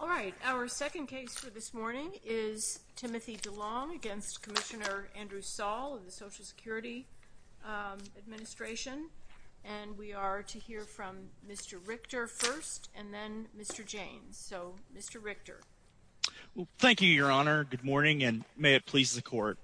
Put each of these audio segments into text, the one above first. All right, our second case for this morning is Timothy Delong v. Commissioner Andrew Saul of the Social Security Administration. And we are to hear from Mr. Richter first, and then Mr. Jaynes. So, Mr. Richter. Thank you, Your Honor. Good morning, and may it please the Court.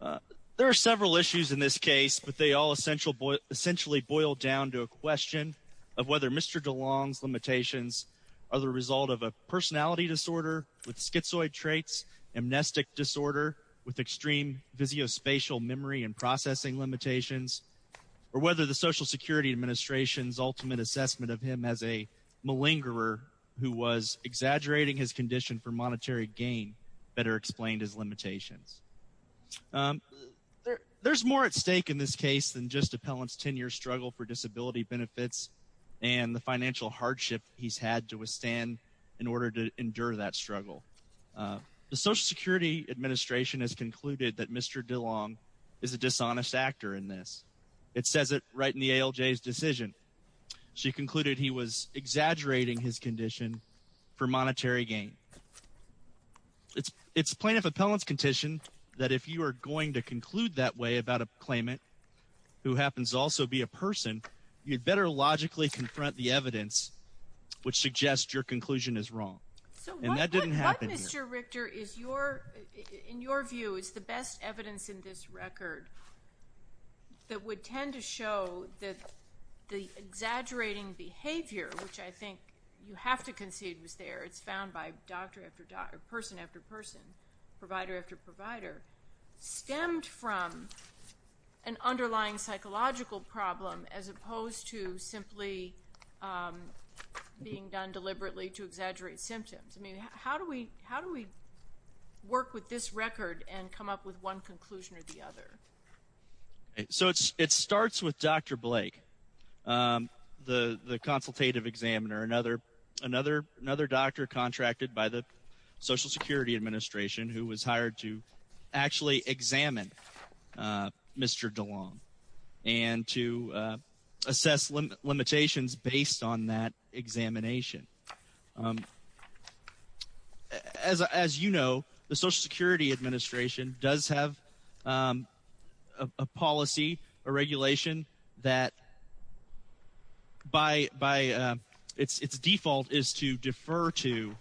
There are several issues in this case, but they all essentially boil down to a question of whether Mr. Delong's limitations are the result of a personality disorder with schizoid traits, amnestic disorder with extreme visio-spatial memory and processing limitations, or whether the Social Security Administration's ultimate assessment of him as a malingerer who was exaggerating his condition for monetary gain better explained his limitations. There's more at stake in this case than just appellant's 10-year struggle for disability benefits and the financial hardship he's had to withstand in order to endure that struggle. The Social Security Administration has concluded that Mr. Delong is a dishonest actor in this. It says it right in the ALJ's decision. She concluded he was exaggerating his condition for monetary gain. It's plaintiff appellant's condition that if you are going to conclude that way about a claimant, who happens to also be a person, you'd better logically confront the evidence which suggests your conclusion is wrong. And that didn't happen here. So what, Mr. Richter, in your view, is the best evidence in this record that would tend to show that the exaggerating behavior, which I think you have to concede was there, it's found by doctor after doctor, person after person, provider after provider, stemmed from an underlying psychological problem as opposed to simply being done deliberately to exaggerate symptoms? I mean, how do we work with this record and come up with one conclusion or the other? So it starts with Dr. Blake, the consultative examiner, another doctor contracted by the Social Security Administration who was hired to actually examine Mr. Delong and to assess limitations based on that examination. As you know, the Social Security Administration does have a policy, a regulation, that by its default is to defer to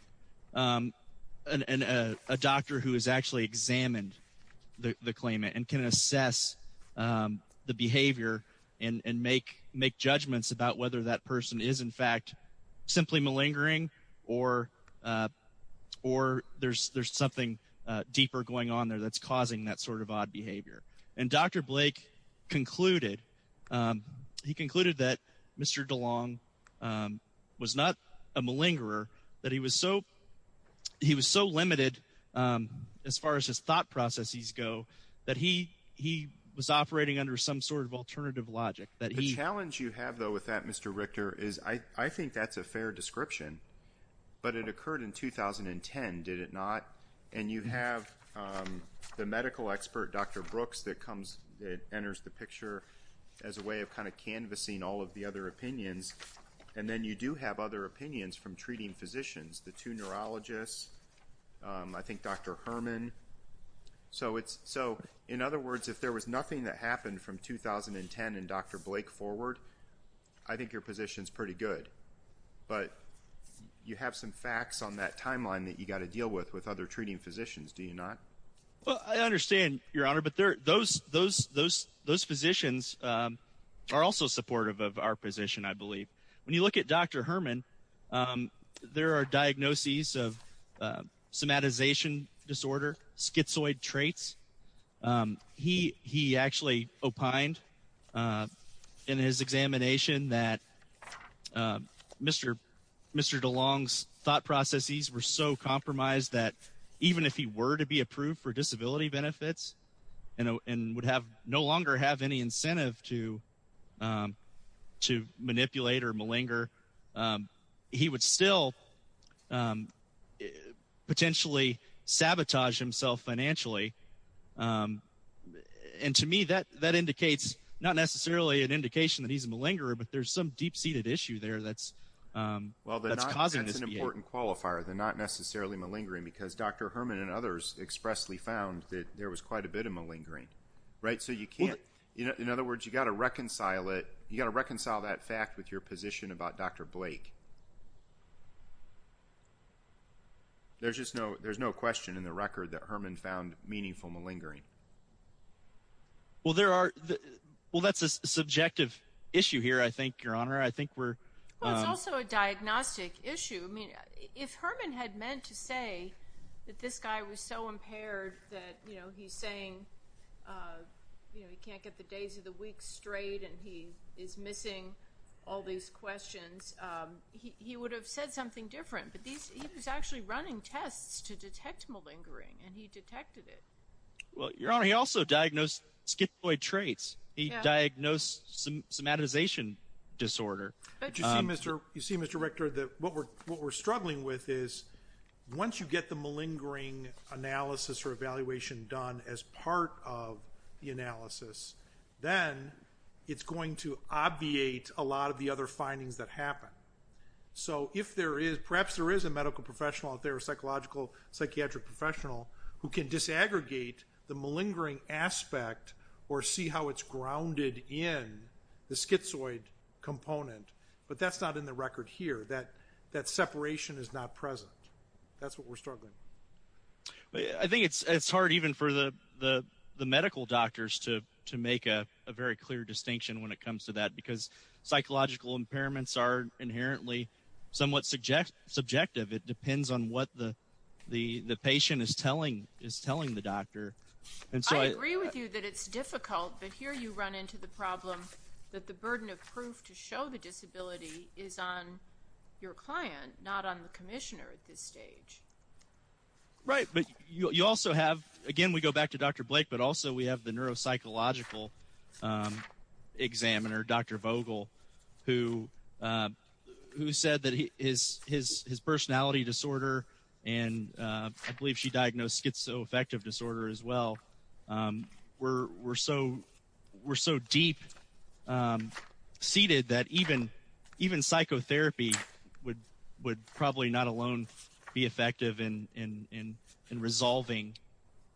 a doctor who has actually examined the claimant and can assess the behavior and make judgments about whether that person is in fact simply malignant. Or there's something deeper going on there that's causing that sort of odd behavior. And Dr. Blake concluded, he concluded that Mr. Delong was not a malingerer, that he was so limited as far as his thought processes go that he was operating under some sort of alternative logic. The challenge you have though with that, Mr. Richter, is I think that's a fair description. But it occurred in 2010, did it not? And you have the medical expert, Dr. Brooks, that comes, that enters the picture as a way of kind of canvassing all of the other opinions. And then you do have other opinions from treating physicians, the two neurologists, I think Dr. Herman. So in other words, if there was nothing that happened from 2010 and Dr. Blake forward, I think your position's pretty good. But you have some facts on that timeline that you've got to deal with with other treating physicians, do you not? Well, I understand, Your Honor. But those physicians are also supportive of our position, I believe. When you look at Dr. Herman, there are diagnoses of somatization disorder, schizoid traits. He actually opined in his examination that Mr. DeLong's thought processes were so compromised that even if he were to be approved for disability benefits and would no longer have any incentive to manipulate or malinger, he would still potentially sabotage himself financially. And to me, that indicates not necessarily an indication that he's a malingerer, but there's some deep-seated issue there that's causing this behavior. I think that's an important qualifier, the not necessarily malingering, because Dr. Herman and others expressly found that there was quite a bit of malingering. In other words, you've got to reconcile that fact with your position about Dr. Blake. There's no question in the record that Herman found meaningful malingering. Well, that's a subjective issue here, I think, Your Honor. Well, it's also a diagnostic issue. I mean, if Herman had meant to say that this guy was so impaired that he's saying he can't get the days of the week straight and he is missing all these questions, he would have said something different, but he was actually running tests to detect malingering, and he detected it. Well, Your Honor, he also diagnosed schizoid traits. He diagnosed somatization disorder. But you see, Mr. Richter, that what we're struggling with is once you get the malingering analysis or evaluation done as part of the analysis, then it's going to obviate a lot of the other findings that happen. So perhaps there is a medical professional out there, a psychological psychiatric professional, who can disaggregate the malingering aspect or see how it's grounded in the schizoid component, but that's not in the record here. That separation is not present. That's what we're struggling with. I think it's hard even for the medical doctors to make a very clear distinction when it comes to that because psychological impairments are inherently somewhat subjective. It depends on what the patient is telling the doctor. I agree with you that it's difficult, but here you run into the problem that the burden of proof to show the disability is on your client, Right, but you also have, again, we go back to Dr. Blake, but also we have the neuropsychological examiner, Dr. Vogel, who said that his personality disorder, and I believe she diagnosed schizoaffective disorder as well, were so deep-seated that even psychotherapy would probably not alone be effective in resolving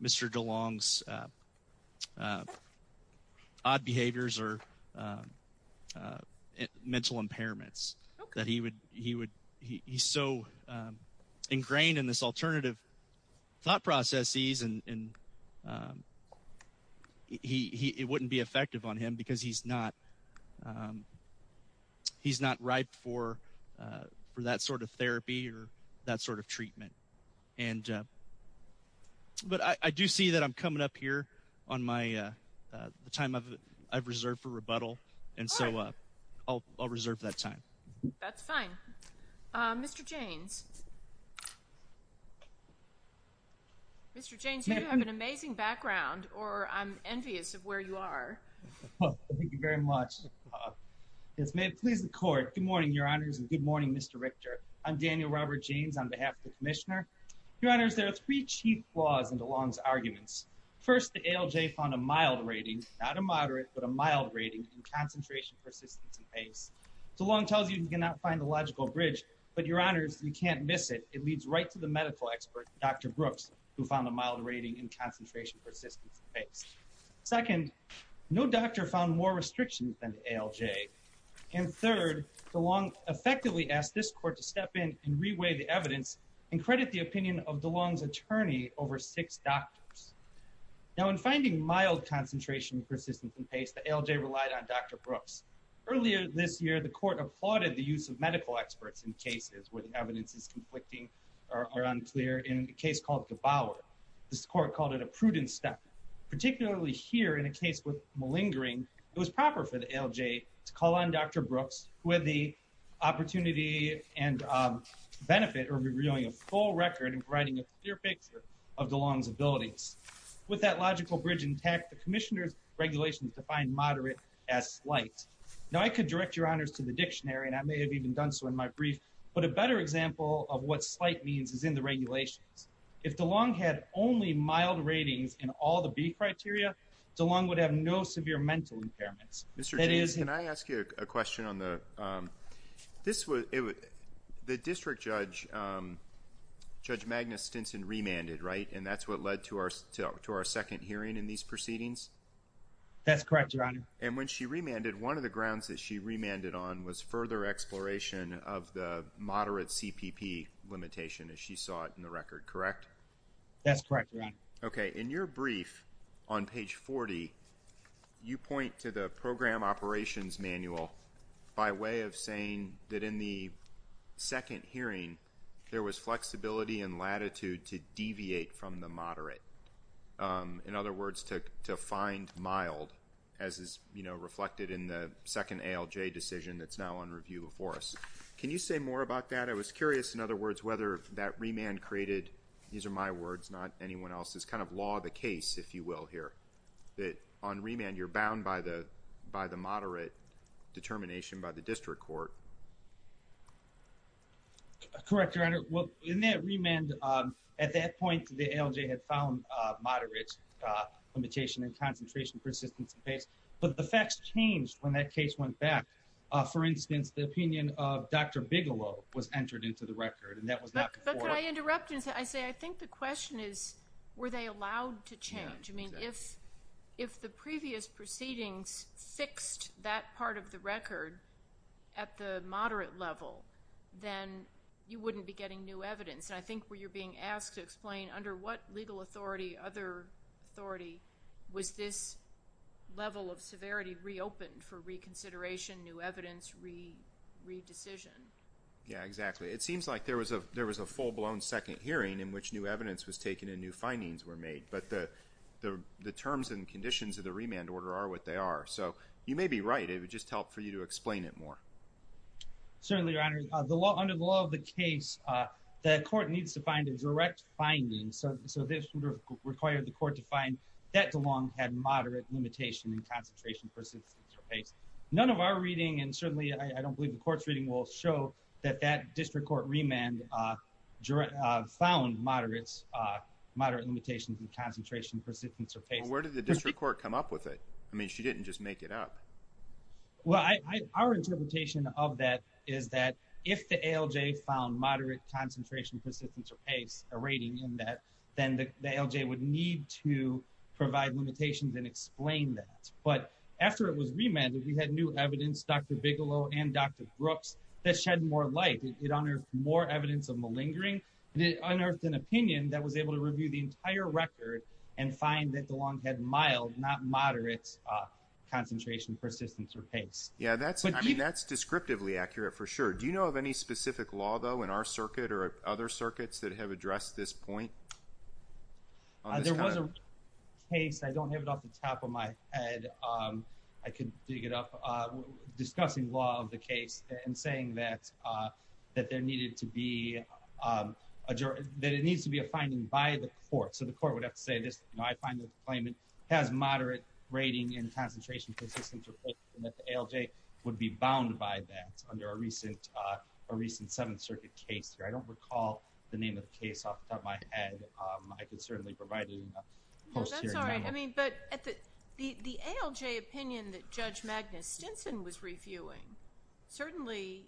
Mr. DeLong's odd behaviors or mental impairments. He's so ingrained in this alternative thought processes and it wouldn't be effective on him because he's not ripe for that sort of therapy or that sort of treatment. But I do see that I'm coming up here on the time I've reserved for rebuttal, and so I'll reserve that time. That's fine. Mr. Jaynes, you have an amazing background, or I'm envious of where you are. Thank you very much. Yes, ma'am, please record. Good morning, Your Honors, and good morning, Mr. Richter. I'm Daniel Robert Jaynes on behalf of the Commissioner. Your Honors, there are three chief flaws in DeLong's arguments. First, the ALJ found a mild rating, not a moderate, but a mild rating in concentration, persistence, and pace. DeLong tells you you cannot find the logical bridge, but Your Honors, you can't miss it. It leads right to the medical expert, Dr. Brooks, who found a mild rating in concentration, persistence, and pace. Second, no doctor found more restrictions than the ALJ. And third, DeLong effectively asked this court to step in and reweigh the evidence and credit the opinion of DeLong's attorney over six doctors. Now, in finding mild concentration, persistence, and pace, the ALJ relied on Dr. Brooks. Earlier this year, the court applauded the use of medical experts in cases where the evidence is conflicting or unclear. In a case called DeBauer, this court called it a prudent step. Particularly here, in a case with malingering, it was proper for the ALJ to call on Dr. Brooks, who had the opportunity and benefit of revealing a full record and providing a clear picture of DeLong's abilities. With that logical bridge intact, the Commissioner's regulations defined moderate as slight. Now, I could direct Your Honors to the dictionary, and I may have even done so in my brief, but a better example of what slight means is in the regulations. If DeLong had only mild ratings in all the B criteria, DeLong would have no severe mental impairments. Mr. James, can I ask you a question on the – this was – the district judge, Judge Magnus Stinson, remanded, right? And that's what led to our second hearing in these proceedings? That's correct, Your Honor. And when she remanded, one of the grounds that she remanded on was further exploration of the moderate CPP limitation, as she saw it in the record, correct? That's correct, Your Honor. Okay. In your brief on page 40, you point to the program operations manual by way of saying that in the second hearing, in other words, to find mild, as is reflected in the second ALJ decision that's now on review before us. Can you say more about that? I was curious, in other words, whether that remand created – these are my words, not anyone else's – kind of law of the case, if you will, here, that on remand you're bound by the moderate determination by the district court. Correct, Your Honor. Well, in that remand, at that point, the ALJ had found moderate limitation in concentration, persistence, and pace. But the facts changed when that case went back. For instance, the opinion of Dr. Bigelow was entered into the record, and that was not before. But could I interrupt and say, I think the question is, were they allowed to change? I mean, if the previous proceedings fixed that part of the record at the moderate level, then you wouldn't be getting new evidence. And I think where you're being asked to explain under what legal authority, other authority, was this level of severity reopened for reconsideration, new evidence, re-decision? Yeah, exactly. It seems like there was a full-blown second hearing in which new evidence was taken and new findings were made. But the terms and conditions of the remand order are what they are. So you may be right. It would just help for you to explain it more. Certainly, Your Honor. Under the law of the case, the court needs to find a direct finding. So this required the court to find that DeLong had moderate limitation in concentration, persistence, and pace. None of our reading, and certainly I don't believe the court's reading, will show that that district court remand found moderate limitations in concentration, persistence, or pace. Well, where did the district court come up with it? I mean, she didn't just make it up. Well, our interpretation of that is that if the ALJ found moderate concentration, persistence, or pace, a rating in that, then the ALJ would need to provide limitations and explain that. But after it was remanded, we had new evidence, Dr. Bigelow and Dr. Brooks, that shed more light. It unearthed more evidence of malingering. It unearthed an opinion that was able to review the entire record and find that DeLong had mild, not moderate, concentration, persistence, or pace. Yeah, I mean, that's descriptively accurate for sure. Do you know of any specific law, though, in our circuit or other circuits that have addressed this point? There was a case. I don't have it off the top of my head. I could dig it up. Discussing law of the case and saying that there needed to be a finding by the court. So the court would have to say this. You know, I find that the claimant has moderate rating in concentration, persistence, or pace, and that the ALJ would be bound by that under a recent Seventh Circuit case. I don't recall the name of the case off the top of my head. I can certainly provide it in a post-hearing manner. No, that's all right. But the ALJ opinion that Judge Magnus Stinson was reviewing certainly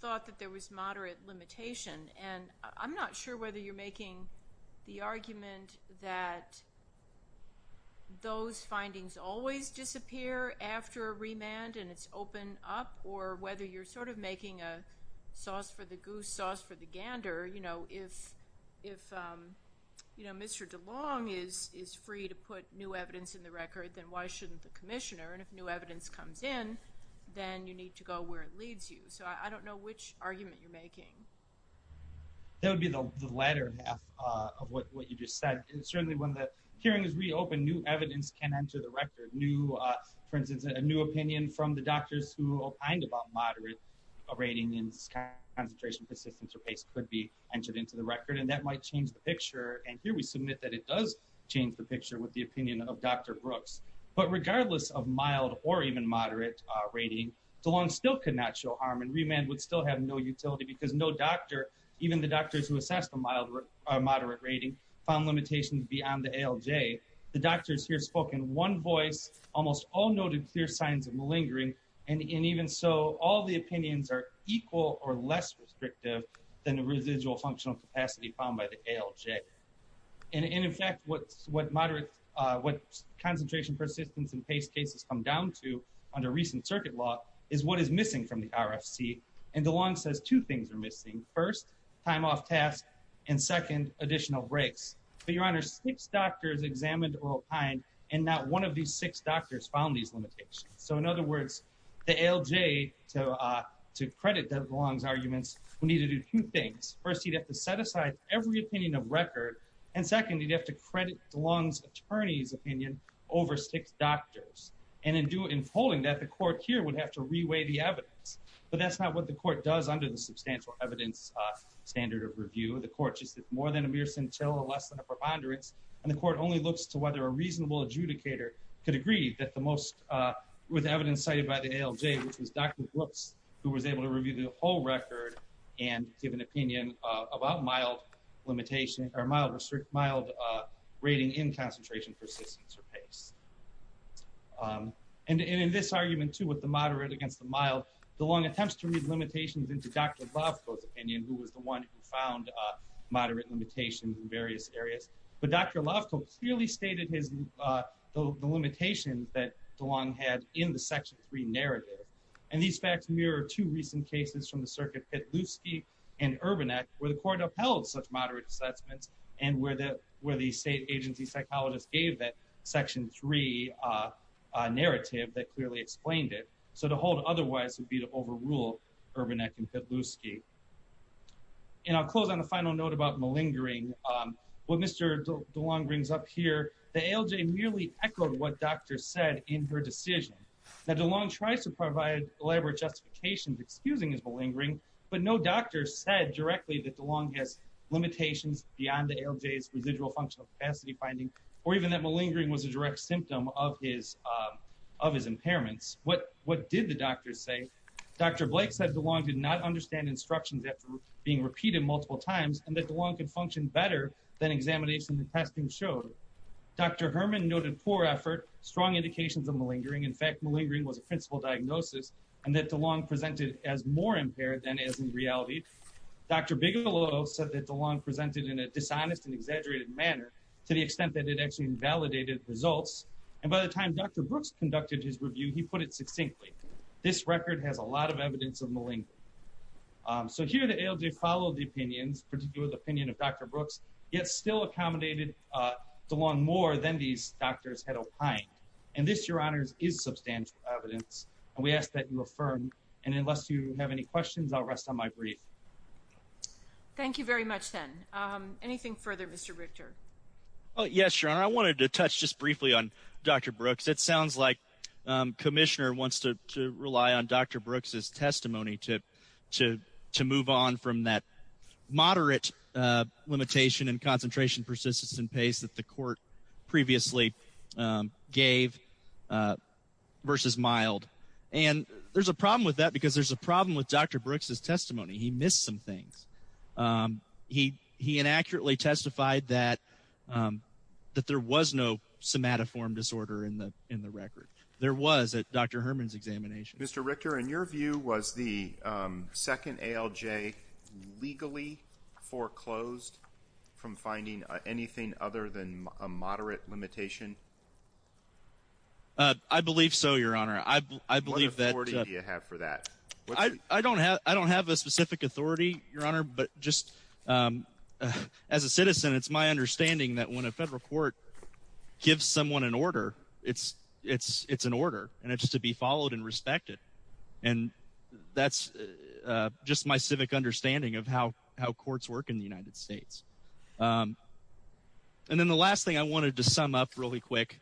thought that there was moderate limitation. And I'm not sure whether you're making the argument that those findings always disappear after a remand and it's opened up, or whether you're sort of making a sauce for the goose, sauce for the gander. You know, if Mr. DeLong is free to put new evidence in the record, then why shouldn't the commissioner? And if new evidence comes in, then you need to go where it leads you. So I don't know which argument you're making. That would be the latter half of what you just said. Certainly when the hearing is reopened, new evidence can enter the record. For instance, a new opinion from the doctors who opined about moderate rating in concentration, persistence, or pace could be entered into the record, and that might change the picture. And here we submit that it does change the picture with the opinion of Dr. Brooks. But regardless of mild or even moderate rating, DeLong still could not show harm, and remand would still have no utility because no doctor, even the doctors who assessed a moderate rating, found limitations beyond the ALJ. The doctors here spoke in one voice, almost all noted clear signs of malingering, and even so, all the opinions are equal or less restrictive than the residual functional capacity found by the ALJ. And in fact, what concentration, persistence, and pace cases come down to under recent circuit law is what is missing from the RFC, and DeLong says two things are missing. First, time off tasks, and second, additional breaks. But Your Honor, six doctors examined or opined, and not one of these six doctors found these limitations. So in other words, the ALJ, to credit DeLong's arguments, would need to do two things. First, he'd have to set aside every opinion of record, and second, he'd have to credit DeLong's attorney's opinion over six doctors. And in holding that, the court here would have to reweigh the evidence. But that's not what the court does under the substantial evidence standard of review. The court just says more than a mere scintilla, less than a preponderance, and the court only looks to whether a reasonable adjudicator could agree that the most with evidence cited by the ALJ, which was Dr. Brooks, who was able to review the whole record and give an opinion about mild limitation, or mild rating in concentration, persistence, or pace. And in this argument, too, with the moderate against the mild, DeLong attempts to read limitations into Dr. Lofko's opinion, who was the one who found moderate limitations in various areas. But Dr. Lofko clearly stated the limitations that DeLong had in the Section 3 narrative. And these facts mirror two recent cases from the circuit, Petluski and Urbanek, where the court upheld such moderate assessments and where the state agency psychologist gave that Section 3 narrative that clearly explained it. So to hold otherwise would be to overrule Urbanek and Petluski. And I'll close on a final note about malingering. What Mr. DeLong brings up here, the ALJ merely echoed what Dr. said in her decision, that DeLong tries to provide elaborate justifications excusing his malingering, but no doctor said directly that DeLong has limitations beyond the ALJ's residual functional capacity finding, or even that malingering was a direct symptom of his impairments. What did the doctors say? Dr. Blake said DeLong did not understand instructions after being repeated multiple times, and that DeLong could function better than examination and testing showed. Dr. Herman noted poor effort, strong indications of malingering. In fact, malingering was a principal diagnosis, and that DeLong presented as more impaired than as in reality. Dr. Bigelow said that DeLong presented in a dishonest and exaggerated manner to the extent that it actually invalidated results. And by the time Dr. Brooks conducted his review, he put it succinctly. This record has a lot of evidence of malingering. So here the ALJ followed the opinions, particularly the opinion of Dr. Brooks, yet still accommodated DeLong more than these doctors had opined. And this, Your Honors, is substantial evidence, and we ask that you affirm. And unless you have any questions, I'll rest on my brief. Thank you very much, then. Anything further, Mr. Richter? Yes, Your Honor, I wanted to touch just briefly on Dr. Brooks. It sounds like Commissioner wants to rely on Dr. Brooks' testimony to move on from that moderate limitation and concentration, persistence, and pace that the court previously gave versus mild. And there's a problem with that because there's a problem with Dr. Brooks' testimony. He missed some things. He inaccurately testified that there was no somatoform disorder in the record. There was at Dr. Herman's examination. Mr. Richter, in your view, was the second ALJ legally foreclosed from finding anything other than a moderate limitation? I believe so, Your Honor. What authority do you have for that? I don't have a specific authority, Your Honor. But just as a citizen, it's my understanding that when a federal court gives someone an order, it's an order, and it's to be followed and respected. And that's just my civic understanding of how courts work in the United States. And then the last thing I wanted to sum up really quick,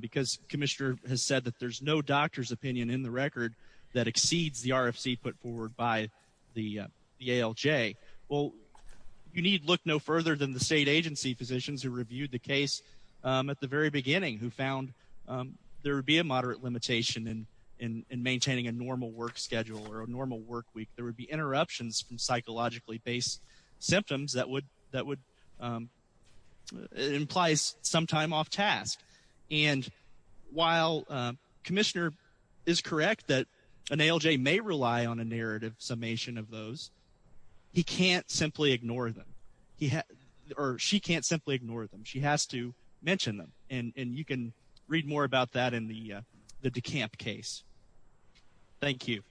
because Commissioner has said that there's no doctor's opinion in the record that exceeds the RFC put forward by the ALJ. Well, you need look no further than the state agency physicians who reviewed the case at the very beginning who found there would be a moderate limitation in maintaining a normal work schedule or a normal work week. There would be interruptions from psychologically based symptoms that would implies some time off task. And while Commissioner is correct that an ALJ may rely on a narrative summation of those, he can't simply ignore them. Or she can't simply ignore them. She has to mention them. And you can read more about that in the DeCamp case. Thank you.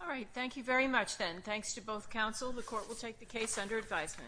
All right. Thank you very much, then. Thanks to both counsel. The court will take the case under advisement.